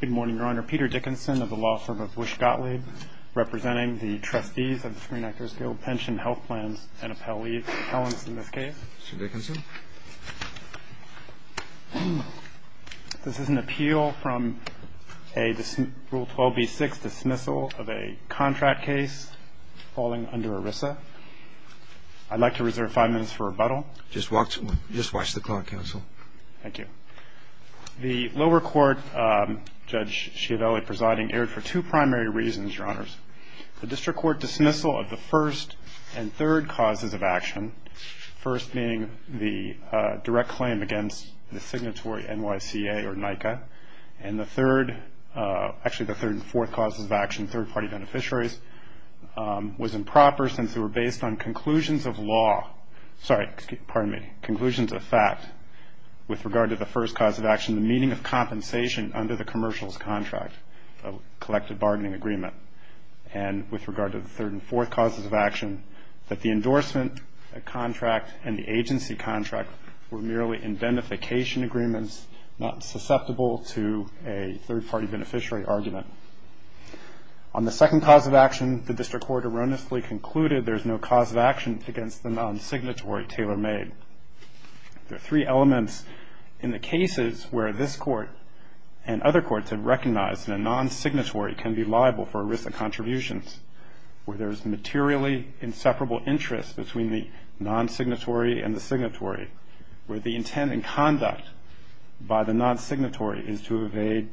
Good morning, Your Honor. Peter Dickinson of the law firm of Bush Gottlieb, representing the Trustees of the Screen Actors Guild, Pension, Health Plans, and Appellate Leagues, appellants in this case. Mr. Dickinson. This is an appeal from a Rule 12b-6 dismissal of a contract case falling under ERISA. I'd like to reserve five minutes for rebuttal. Just watch the clock, counsel. Thank you. The lower court, Judge Schiavelli presiding, erred for two primary reasons, Your Honors. The district court dismissal of the first and third causes of action, first being the direct claim against the signatory NYCA or NICA, and the third, actually the third and fourth causes of action, third-party beneficiaries, was improper since they were based on conclusions of law, sorry, pardon me, conclusions of fact with regard to the first cause of action, the meaning of compensation under the commercials contract, a collective bargaining agreement, and with regard to the third and fourth causes of action, that the endorsement contract and the agency contract were merely indemnification agreements, not susceptible to a third-party beneficiary argument. On the second cause of action, the district court erroneously concluded there's no cause of action against the non-signatory tailor-made. There are three elements in the cases where this court and other courts have recognized that a non-signatory can be liable for ERISA contributions, where there's materially inseparable interest between the non-signatory and the signatory, where the intent and conduct by the non-signatory is to evade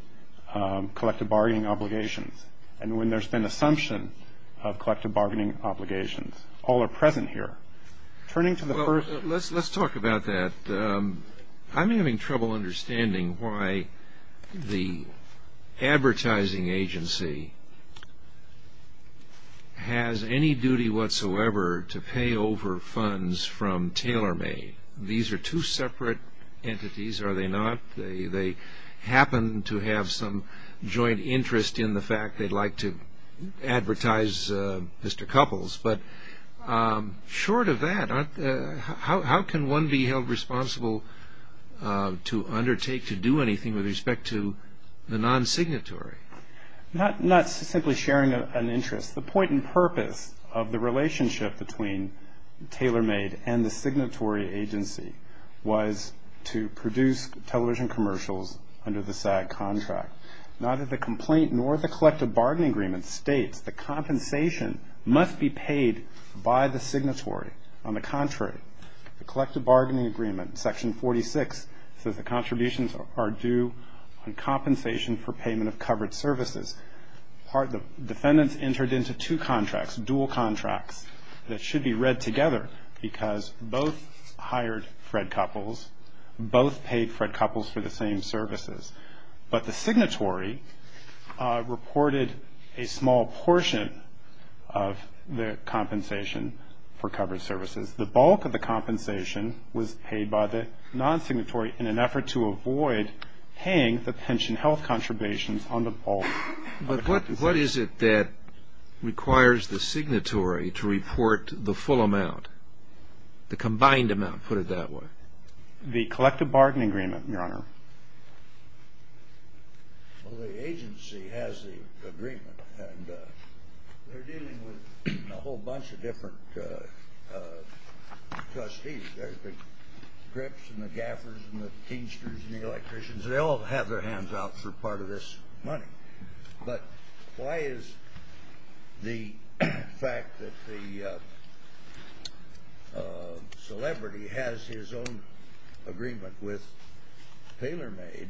collective bargaining obligations, and when there's been assumption of collective bargaining obligations. All are present here. Turning to the first. Well, let's talk about that. I'm having trouble understanding why the advertising agency has any duty whatsoever to pay over funds from tailor-made. These are two separate entities, are they not? They happen to have some joint interest in the fact they'd like to advertise Mr. Couples, but short of that, how can one be held responsible to undertake to do anything with respect to the non-signatory? Not simply sharing an interest. The point and purpose of the relationship between tailor-made and the signatory agency was to produce television commercials under the SAG contract. Neither the complaint nor the collective bargaining agreement states the compensation must be paid by the signatory. On the contrary, the collective bargaining agreement, section 46, says the contributions are due on compensation for payment of covered services. The defendants entered into two contracts, dual contracts, that should be read together, because both hired Fred Couples, both paid Fred Couples for the same services, but the signatory reported a small portion of the compensation for covered services. The bulk of the compensation was paid by the non-signatory in an effort to avoid paying the pension health contributions on the bulk. But what is it that requires the signatory to report the full amount, the combined amount, put it that way? The collective bargaining agreement, Your Honor. Well, the agency has the agreement, and they're dealing with a whole bunch of different trustees. There's the grips and the gaffers and the teensters and the electricians. They all have their hands out for part of this money. But why is the fact that the celebrity has his own agreement with TaylorMade,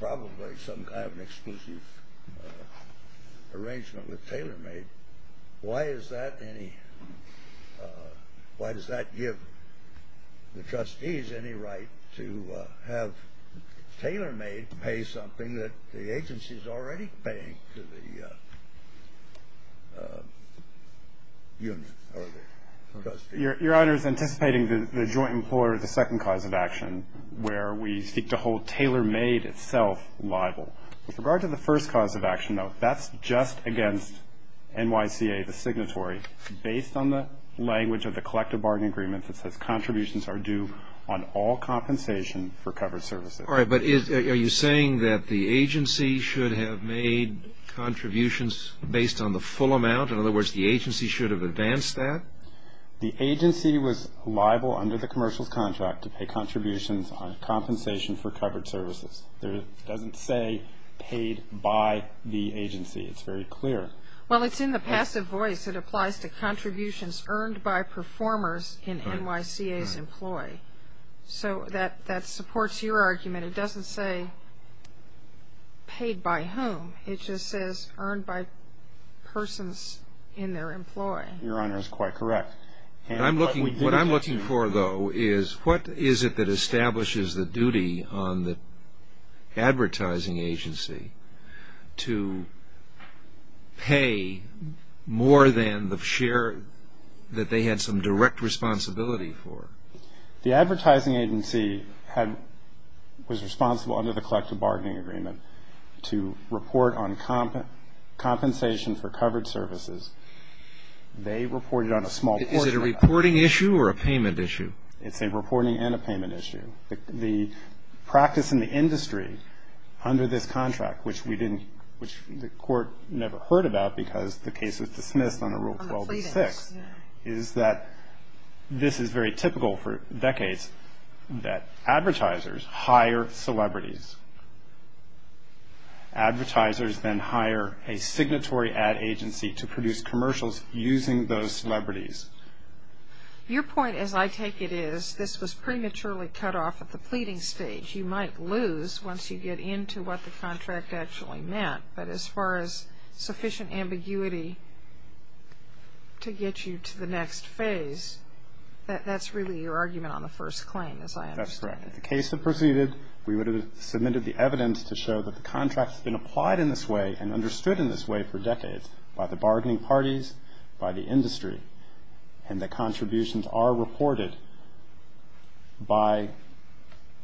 probably some kind of exclusive arrangement with TaylorMade, why does that give the trustees any right to have TaylorMade pay something that the agency is already paying to the unit or the trustees? Your Honor is anticipating the joint implore of the second cause of action, where we seek to hold TaylorMade itself liable. With regard to the first cause of action, though, that's just against NYCA, the signatory, based on the language of the collective bargaining agreement that says contributions are due on all compensation for covered services. All right. But are you saying that the agency should have made contributions based on the full amount? In other words, the agency should have advanced that? The agency was liable under the commercials contract to pay contributions on compensation for covered services. It doesn't say paid by the agency. It's very clear. Well, it's in the passive voice. It applies to contributions earned by performers in NYCA's employ. So that supports your argument. It doesn't say paid by whom. It just says earned by persons in their employ. Your Honor is quite correct. What I'm looking for, though, is what is it that establishes the duty on the advertising agency to pay more than the share that they had some direct responsibility for? The advertising agency was responsible under the collective bargaining agreement to report on compensation for covered services. They reported on a small portion of that. Is it a reporting issue or a payment issue? It's a reporting and a payment issue. The practice in the industry under this contract, which we didn't – which the Court never heard about because the case was dismissed under Rule 12-6, is that this is very typical for decades, that advertisers hire celebrities. Advertisers then hire a signatory ad agency to produce commercials using those celebrities. Your point, as I take it, is this was prematurely cut off at the pleading stage. You might lose once you get into what the contract actually meant. But as far as sufficient ambiguity to get you to the next phase, that's really your argument on the first claim, as I understand it. That's correct. If the case had proceeded, we would have submitted the evidence to show that the contract has been applied in this way and understood in this way for decades by the bargaining parties, by the industry, and that contributions are reported by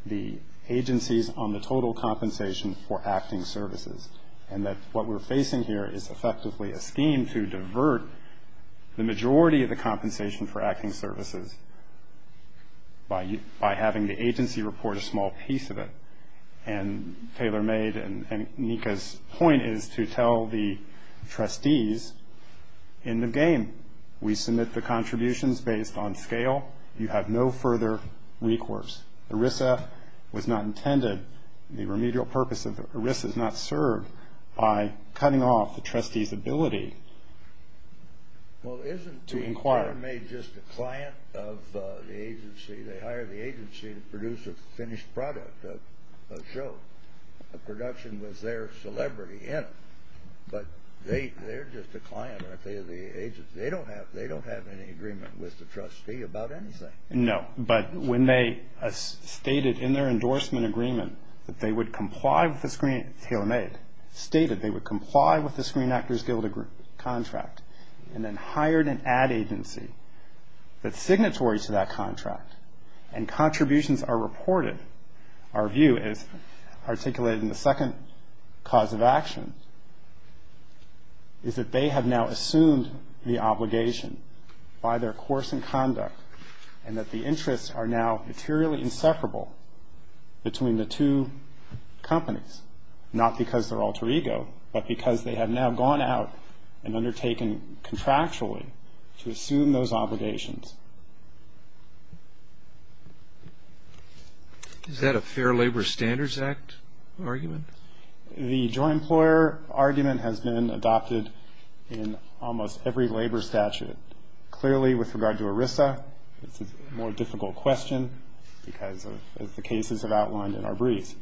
the agencies on the total compensation for acting services, and that what we're facing here is effectively a scheme to divert the majority of the compensation for acting services by having the agency report a small piece of it. And Taylor made – and Nika's point is to tell the trustees in the game, we submit the contributions based on scale. You have no further recourse. ERISA was not intended – the remedial purpose of ERISA is not served by cutting off the trustees' ability to inquire. Taylor made just a client of the agency. They hired the agency to produce a finished product, a show, a production with their celebrity in it. But they're just a client, aren't they, of the agency? They don't have any agreement with the trustee about anything. No, but when they stated in their endorsement agreement that they would comply with the screen – Taylor made, stated they would comply with the Screen Actors Guild contract and then hired an ad agency that's signatory to that contract, and contributions are reported. Our view is, articulated in the second cause of action, is that they have now assumed the obligation by their course and conduct and that the interests are now materially inseparable between the two companies, not because they're alter ego, but because they have now gone out and undertaken contractually to assume those obligations. Is that a Fair Labor Standards Act argument? The joint employer argument has been adopted in almost every labor statute. Clearly, with regard to ERISA, it's a more difficult question because, as the cases have outlined in our briefs,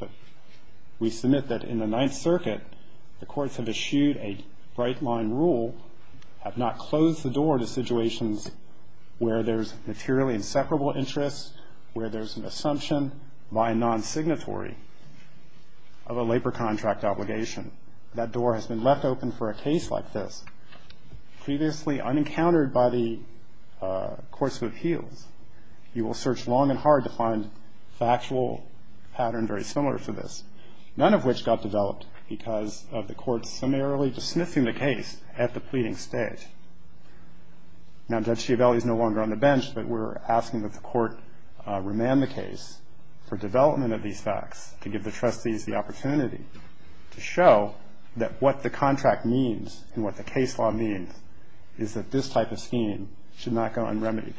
we submit that in the Ninth Circuit, the courts have eschewed a bright-line rule, have not closed the door to situations where there's materially inseparable interest, where there's an assumption by a non-signatory of a labor contract obligation. That door has been left open for a case like this. Previously unencountered by the courts of appeals, you will search long and hard to find factual pattern very similar to this, none of which got developed because of the courts similarly dismissing the case at the pleading stage. Now Judge Schiavelli is no longer on the bench, but we're asking that the court remand the case for development of these facts to give the trustees the opportunity to show that what the contract means and what the case law means is that this type of scheme should not go unremitted.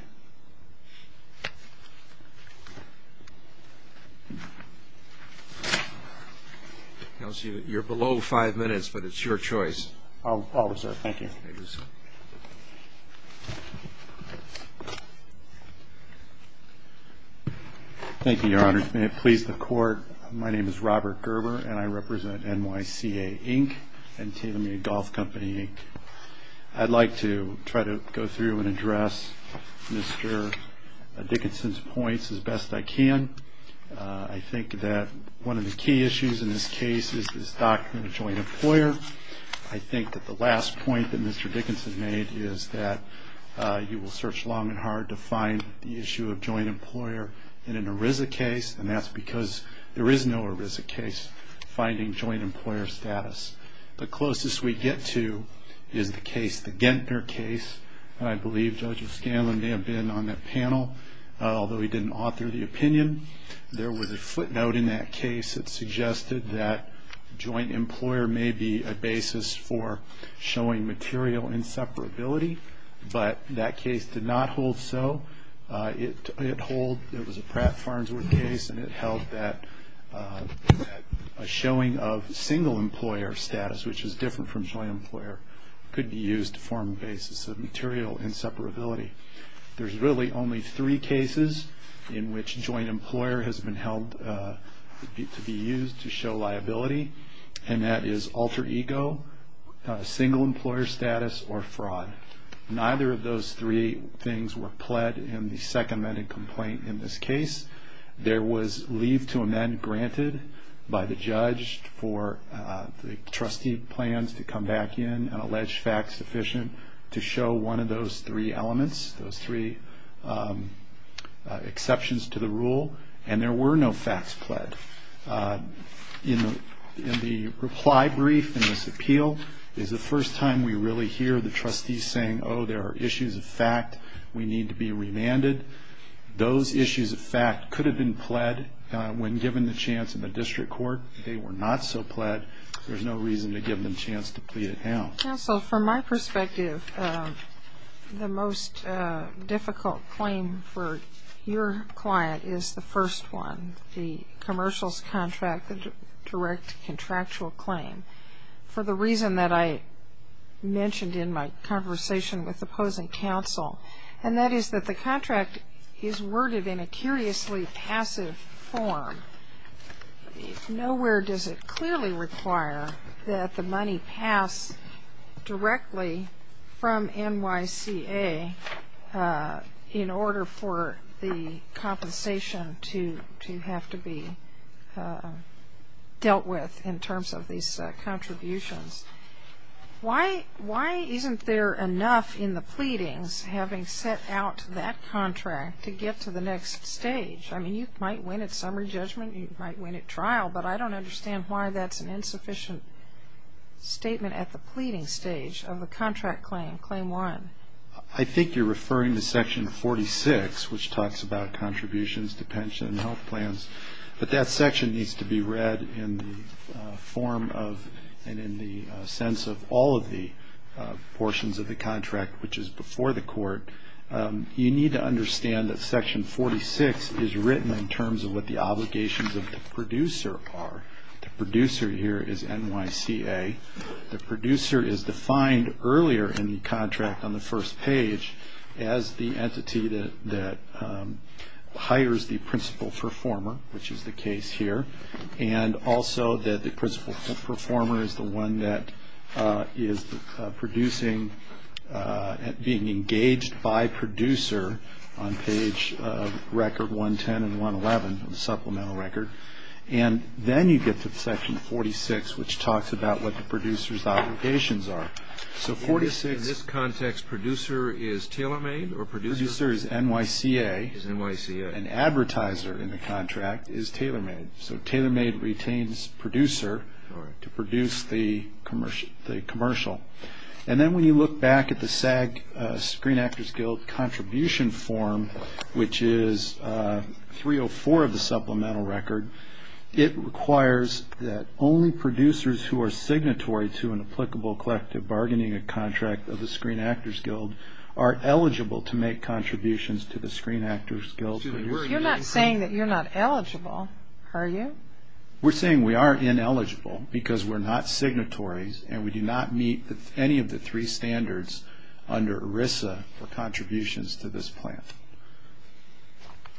I don't see that you're below five minutes, but it's your choice. I'll reserve. Thank you. Thank you, Your Honor. May it please the Court, my name is Robert Gerber and I represent NYCA, Inc. and TaylorMade Golf Company, Inc. I'd like to try to go through and address Mr. Dickinson's points as best I can. I think that one of the key issues in this case is this doctrine of joint employer. I think that the last point that Mr. Dickinson made is that you will search long and hard to find the issue of joint employer in an ERISA case, and that's because there is no ERISA case finding joint employer status. The closest we get to is the case, the Gentner case, and I believe Judge O'Scanlan may have been on that panel, although he didn't author the opinion. There was a footnote in that case that suggested that joint employer may be a basis for showing material inseparability, but that case did not hold so. It was a Pratt Farnsworth case and it held that a showing of single employer status, which is different from joint employer, could be used to form a basis of material inseparability. There's really only three cases in which joint employer has been held to be used to show liability, and that is alter ego, single employer status, or fraud. Neither of those three things were pled in the second amended complaint in this case. There was leave to amend granted by the judge for the trustee plans to come back in and alleged facts sufficient to show one of those three elements, those three exceptions to the rule, and there were no facts pled. In the reply brief in this appeal is the first time we really hear the trustees saying, oh, there are issues of fact we need to be remanded. Those issues of fact could have been pled when given the chance in the district court. They were not so pled. There's no reason to give them a chance to plead it out. Counsel, from my perspective, the most difficult claim for your client is the first one, the commercials contract, the direct contractual claim, for the reason that I mentioned in my conversation with opposing counsel, and that is that the contract is worded in a curiously passive form. Nowhere does it clearly require that the money pass directly from NYCA in order for the compensation to have to be dealt with in terms of these contributions. Why isn't there enough in the pleadings having set out that contract to get to the next stage? I mean, you might win at summary judgment, you might win at trial, but I don't understand why that's an insufficient statement at the pleading stage of the contract claim, claim one. I think you're referring to section 46, which talks about contributions to pension and health plans, but that section needs to be read in the form of and in the sense of all of the portions of the contract, which is before the court. You need to understand that section 46 is written in terms of what the obligations of the producer are. The producer here is NYCA. The producer is defined earlier in the contract on the first page as the entity that hires the principal performer, which is the case here, and also that the principal performer is the one that is producing, being engaged by producer on page record 110 and 111 of the supplemental record. And then you get to section 46, which talks about what the producer's obligations are. So 46. In this context, producer is tailor-made or producer? Producer is NYCA. Is NYCA. And advertiser in the contract is tailor-made. So tailor-made retains producer to produce the commercial. And then when you look back at the SAG Screen Actors Guild contribution form, which is 304 of the supplemental record, it requires that only producers who are signatory to an applicable collective bargaining contract of the Screen Actors Guild are eligible to make contributions to the Screen Actors Guild. You're not saying that you're not eligible, are you? We're saying we are ineligible because we're not signatories and we do not meet any of the three standards under ERISA for contributions to this plan.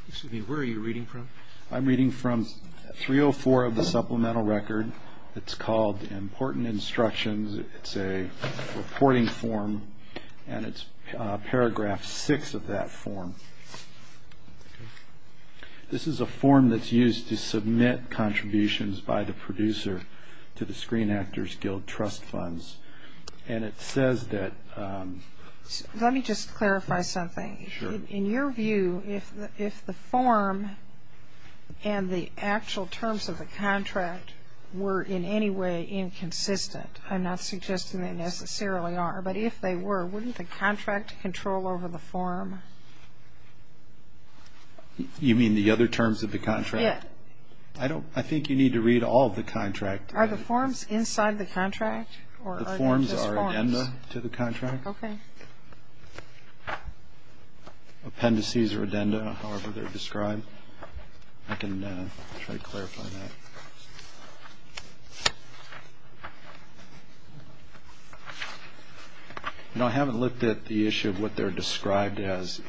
Excuse me. Where are you reading from? I'm reading from 304 of the supplemental record. It's called Important Instructions. It's a reporting form, and it's paragraph 6 of that form. This is a form that's used to submit contributions by the producer to the Screen Actors Guild trust funds, and it says that... Let me just clarify something. Sure. In your view, if the form and the actual terms of the contract were in any way inconsistent, I'm not suggesting they necessarily are, but if they were, wouldn't the contract control over the form? You mean the other terms of the contract? Yes. I think you need to read all of the contract. Are the forms inside the contract, or are they just forms? The forms are addenda to the contract. Appendices are addenda, however they're described. I can try to clarify that. No, I haven't looked at the issue of what they're described as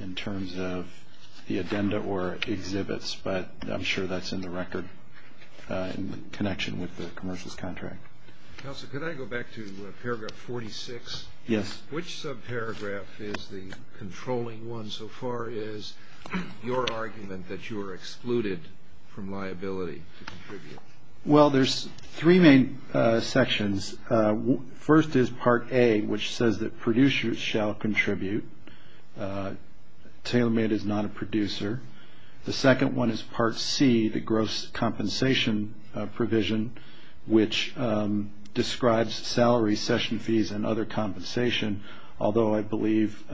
in terms of the addenda or exhibits, but I'm sure that's in the record in connection with the commercials contract. Counselor, could I go back to paragraph 46? Yes. Which subparagraph is the controlling one, so far as your argument that you are excluded from liability to contribute? Well, there's three main sections. First is Part A, which says that producers shall contribute. Tailor-made is not a producer. The second one is Part C, the gross compensation provision, which describes salary, session fees, and other compensation, although I believe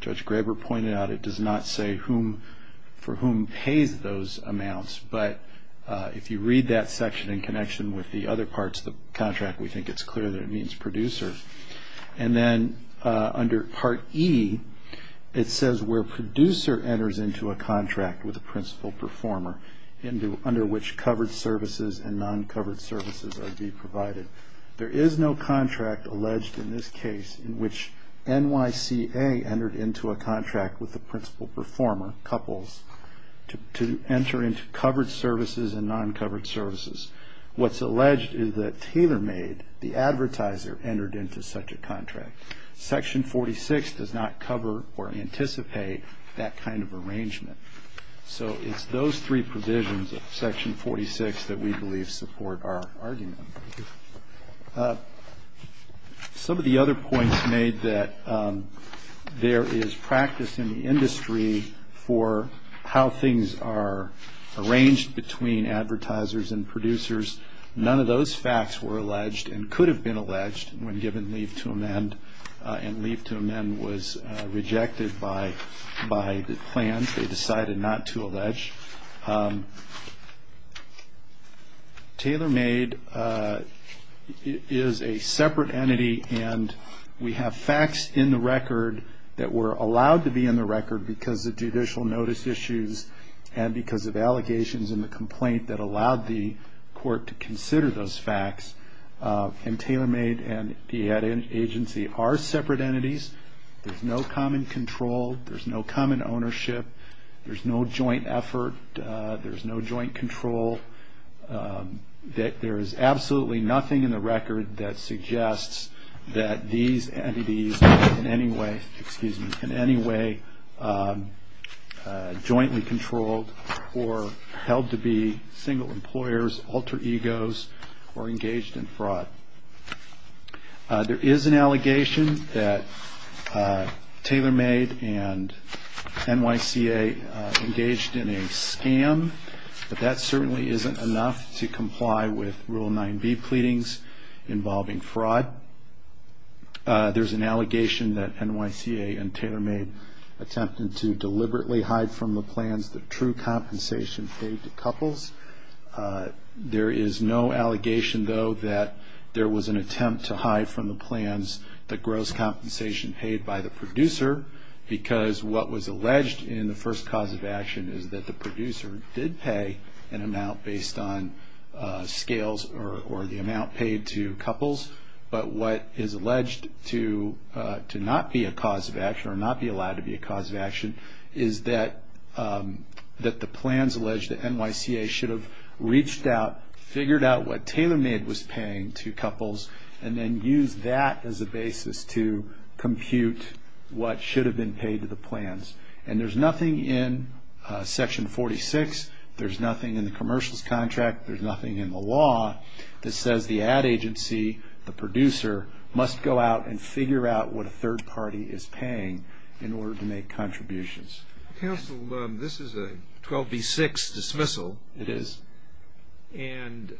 Judge Graber pointed out it does not say for whom pays those amounts. But if you read that section in connection with the other parts of the contract, we think it's clear that it means producer. And then under Part E, it says where producer enters into a contract with a principal performer, under which covered services and non-covered services are to be provided. There is no contract alleged in this case in which NYCA entered into a contract with the principal performer, couples, to enter into covered services and non-covered services. What's alleged is that tailor-made, the advertiser, entered into such a contract. Section 46 does not cover or anticipate that kind of arrangement. So it's those three provisions of Section 46 that we believe support our argument. Some of the other points made that there is practice in the industry for how things are arranged between advertisers and producers. None of those facts were alleged and could have been alleged when given leave to amend, and leave to amend was rejected by the plans. They decided not to allege. Tailor-made is a separate entity, and we have facts in the record that were allowed to be in the record because of judicial notice issues and because of allegations in the complaint that allowed the court to consider those facts. And tailor-made and the ad agency are separate entities. There's no common control. There's no common ownership. There's no joint effort. There's no joint control. There is absolutely nothing in the record that suggests that these entities are in any way jointly controlled or held to be single employers, alter egos, or engaged in fraud. There is an allegation that tailor-made and NYCA engaged in a scam, but that certainly isn't enough to comply with Rule 9b pleadings involving fraud. There's an allegation that NYCA and tailor-made attempted to deliberately hide from the plans the true compensation paid to couples. There is no allegation, though, that there was an attempt to hide from the plans the gross compensation paid by the producer because what was alleged in the first cause of action is that the producer did pay an amount based on scales or the amount paid to couples. But what is alleged to not be a cause of action or not be allowed to be a cause of action is that the plans alleged that NYCA should have reached out, figured out what tailor-made was paying to couples, and then used that as a basis to compute what should have been paid to the plans. And there's nothing in Section 46, there's nothing in the commercials contract, there's nothing in the law that says the ad agency, the producer, must go out and figure out what a third party is paying in order to make contributions. Counsel, this is a 12b-6 dismissal. It is. And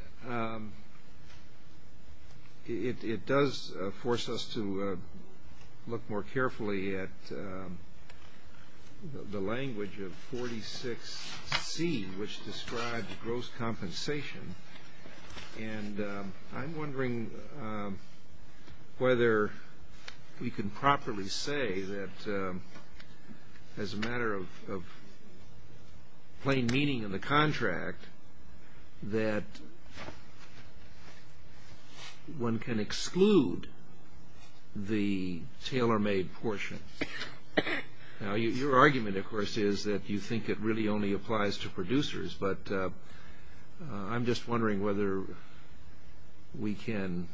it does force us to look more carefully at the language of 46c, which describes gross compensation. And I'm wondering whether we can properly say that as a matter of plain meaning in the contract that one can exclude the tailor-made portion. Now your argument, of course, is that you think it really only applies to producers, but I'm just wondering whether we can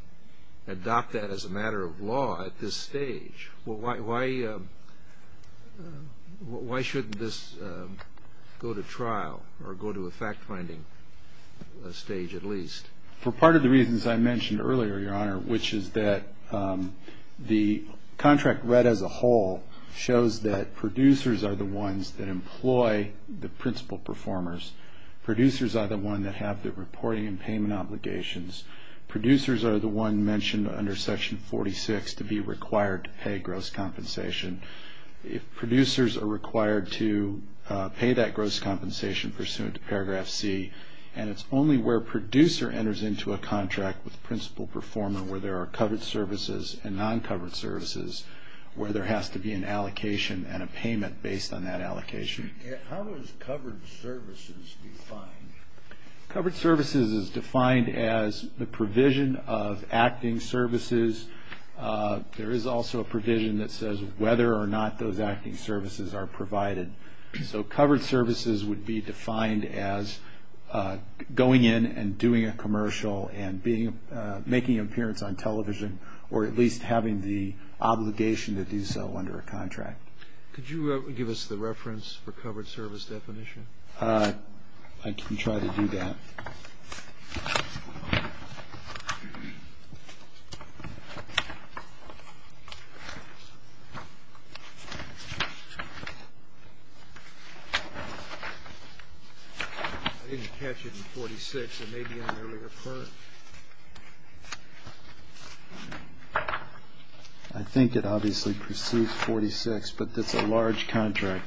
adopt that as a matter of law at this stage. Well, why shouldn't this go to trial, or go to a fact-finding stage at least? For part of the reasons I mentioned earlier, Your Honor, which is that the contract read as a whole shows that producers are the ones that employ the principal performers. Producers are the ones that have the reporting and payment obligations. Producers are the ones mentioned under section 46 to be required to pay gross compensation. If producers are required to pay that gross compensation pursuant to paragraph C, and it's only where producer enters into a contract with principal performer where there are covered services and non-covered services where there has to be an allocation and a payment based on that allocation. How is covered services defined? Covered services is defined as the provision of acting services. There is also a provision that says whether or not those acting services are provided. So covered services would be defined as going in and doing a commercial and making an appearance on television, or at least having the covered service definition. I can try to do that. I didn't catch it in 46. It may be in an earlier part. I think it obviously pursues 46, but that's a large contract.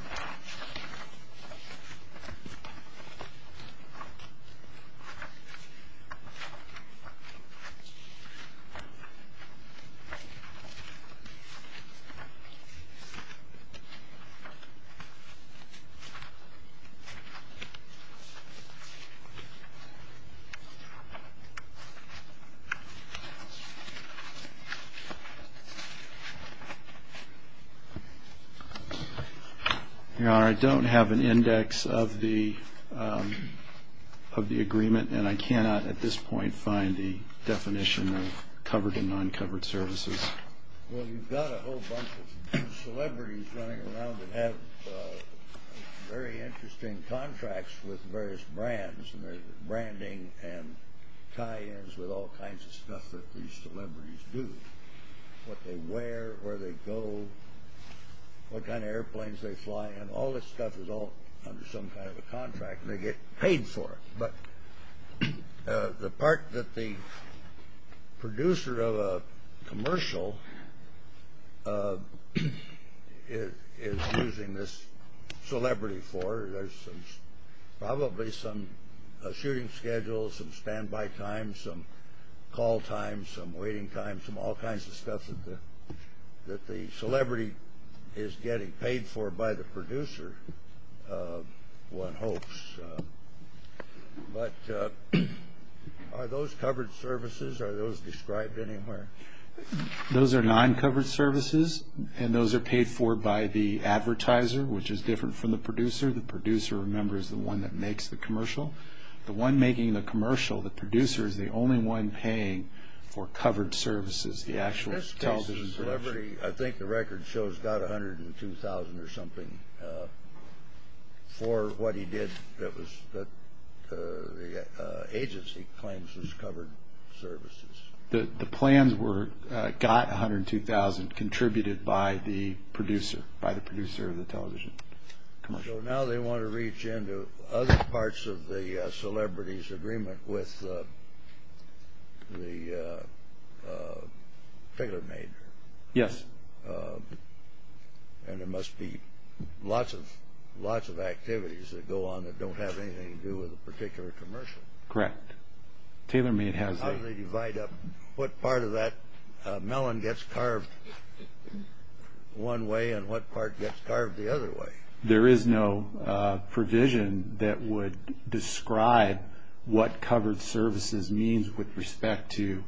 Your Honor, I don't have an index of the agreement, and I cannot at this point find the definition of covered and non-covered services. Well, you've got a whole bunch of celebrities running around that have very interesting contracts with various brands, and they're branding and tie-ins with all kinds of stuff that these celebrities do. What they wear, where they go, what kind of airplanes they fly in, all this stuff is all under some kind of a contract, and they get paid for it. But the part that the producer of a commercial is using this celebrity for, there's probably some shooting schedule, some standby time, some call time, some waiting time, some all kinds of stuff that the celebrity is getting paid for by the producer, one hopes. Are those covered services? Are those described anywhere? Those are non-covered services, and those are paid for by the advertiser, which is different from the producer. The producer, remember, is the one that makes the commercial. The one making the commercial, the producer, is the only one paying for covered services, the actual television commercial. In this case, the celebrity, I think the record shows got $102,000 or something for what he did that the agency claims was covered services. The plans were got $102,000, contributed by the producer, by the producer of the television commercial. So now they want to reach into other parts of the celebrity's agreement with the TaylorMade. Yes. And there must be lots of activities that go on that don't have anything to do with a particular commercial. Correct. How do they divide up what part of that melon gets carved one way and what part gets carved the other way? There is no provision that would describe what covered services means with respect to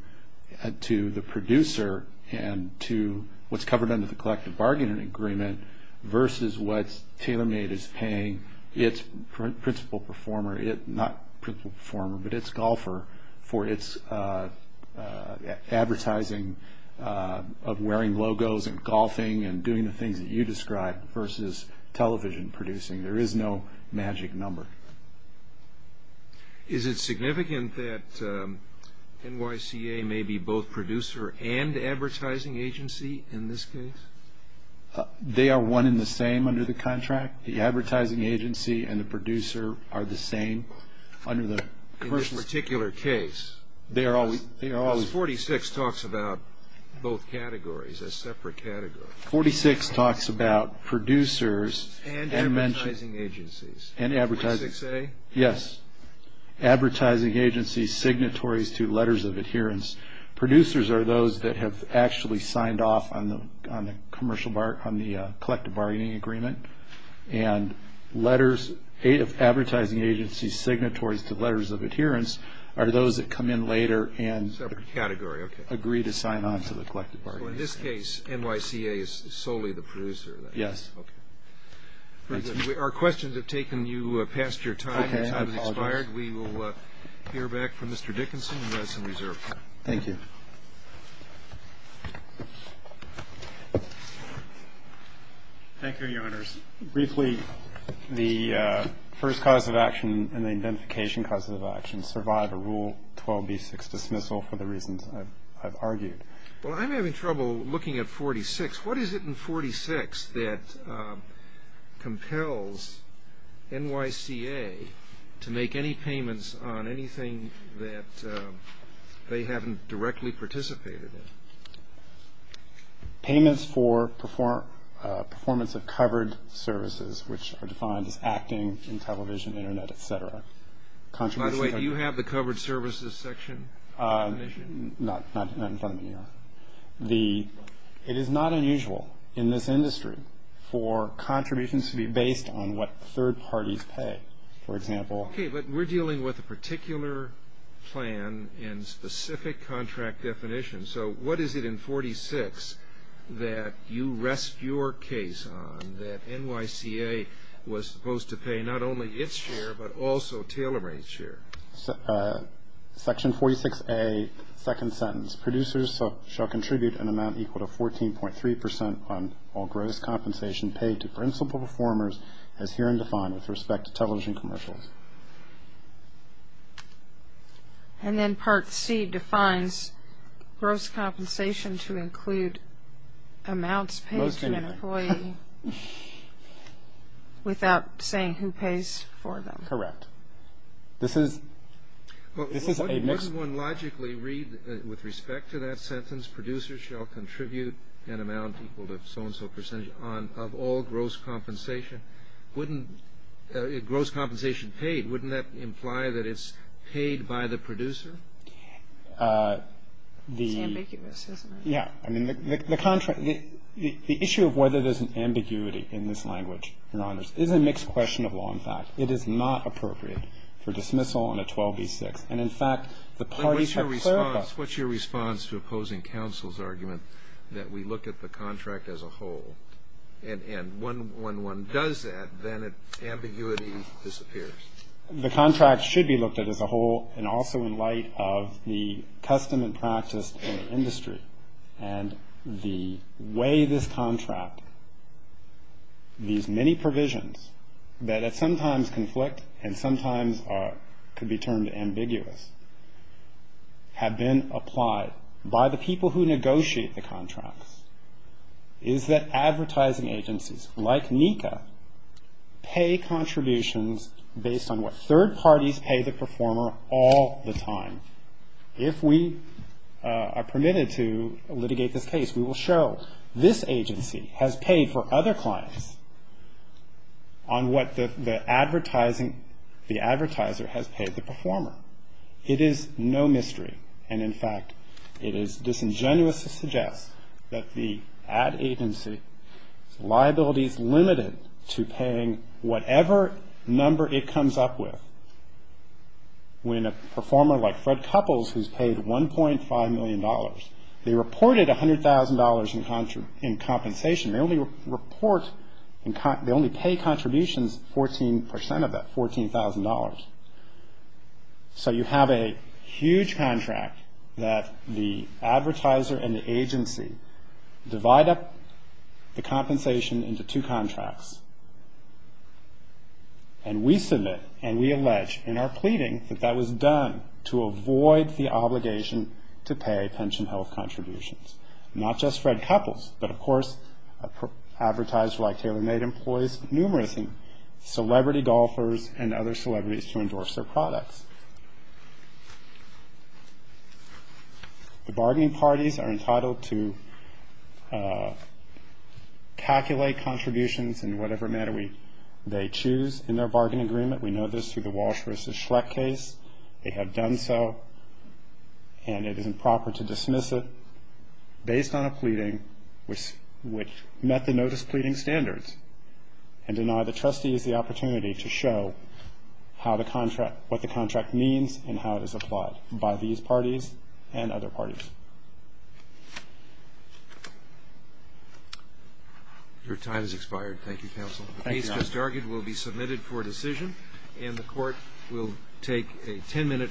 the producer and to what's covered under the collective bargaining agreement versus what is called a golfer for its advertising of wearing logos and golfing and doing the things that you describe versus television producing. There is no magic number. Is it significant that NYCA may be both producer and advertising agency in this case? They are one in the same under the contract. The advertising agency and the producer are the same under the commercial. In this particular case, because 46 talks about both categories, a separate category. 46 talks about producers and advertising agencies. 46A? Yes, advertising agency signatories to letters of adherence. Producers are those that have actually signed off on the collective bargaining agreement and letters, advertising agency signatories to letters of adherence are those that come in later and So in this case, NYCA is solely the producer. Our questions have taken you past your time. Your time has expired. We will hear back from Mr. Dickinson in medicine reserve. Thank you, Your Honors. Briefly, the first cause of action and the identification cause of action and survival rule 12B6 dismissal for the reasons I've argued. Well, I'm having trouble looking at 46. What is it in 46 that compels NYCA to make any payments on anything that they haven't directly participated in? Payments for performance of covered services, which are defined as acting in television, Internet, etc. Do you have the covered services section? It is not unusual in this industry for contributions to be based on what third parties pay, for example. Okay, but we're dealing with a particular plan in specific contract definition. So what is it in 46 that you rest your case on that NYCA was supposed to pay not only its share, but also Taylor Ray's share? Section 46A, second sentence. Producers shall contribute an amount equal to 14.3% on all gross compensation paid to principal performers as herein defined with respect to television commercials. And then part C defines gross compensation to include amounts paid to an employee without saying who pays for them. Correct. This is a mix. With respect to that sentence, producers shall contribute an amount equal to so-and-so percentage of all gross compensation paid. Wouldn't that imply that it's paid by the producer? It's ambiguous, isn't it? The issue of whether there's an ambiguity in this language is a mixed question of law, in fact. It is not appropriate for dismissal on a 12B6. What's your response to opposing counsel's argument that we look at the contract as a whole and when one does that, then ambiguity disappears? The contract should be looked at as a whole and also in light of the custom and practice in the industry and the way this contract, these many provisions that sometimes conflict and sometimes could be turned ambiguous, have been applied by the people who negotiate the contracts. Is that advertising agencies like NECA pay contributions based on what third parties pay the performer all the time? If we are permitted to litigate this case, we will show this agency has paid for other clients on what the advertiser has paid the performer. It is no mystery, and in fact it is disingenuous to suggest that the ad agency's liability is limited to paying whatever number it comes up with. When a performer like Fred Couples, who has paid $1.5 million, they reported $100,000 in compensation. They only pay contributions 14% of that $14,000. So you have a huge contract that the advertiser and the agency divide up the compensation into two contracts. And we submit and we allege in our pleading that that was done to avoid the obligation to pay pension health contributions. Not just Fred Couples, but of course an advertiser like TaylorMade employs numerous celebrity golfers and other celebrities to endorse their products. The bargaining parties are entitled to calculate contributions in whatever manner they choose in their bargaining agreement. We know this through the Walsh v. Schreck case. They have done so, and it is improper to dismiss it based on a pleading which met the notice pleading standards and deny the trustees the opportunity to show what the contract means and how it is applied by these parties and other parties. Your time has expired. Thank you, Counsel. The case, as just argued, will be submitted for decision, and the Court will take a 10-minute recess.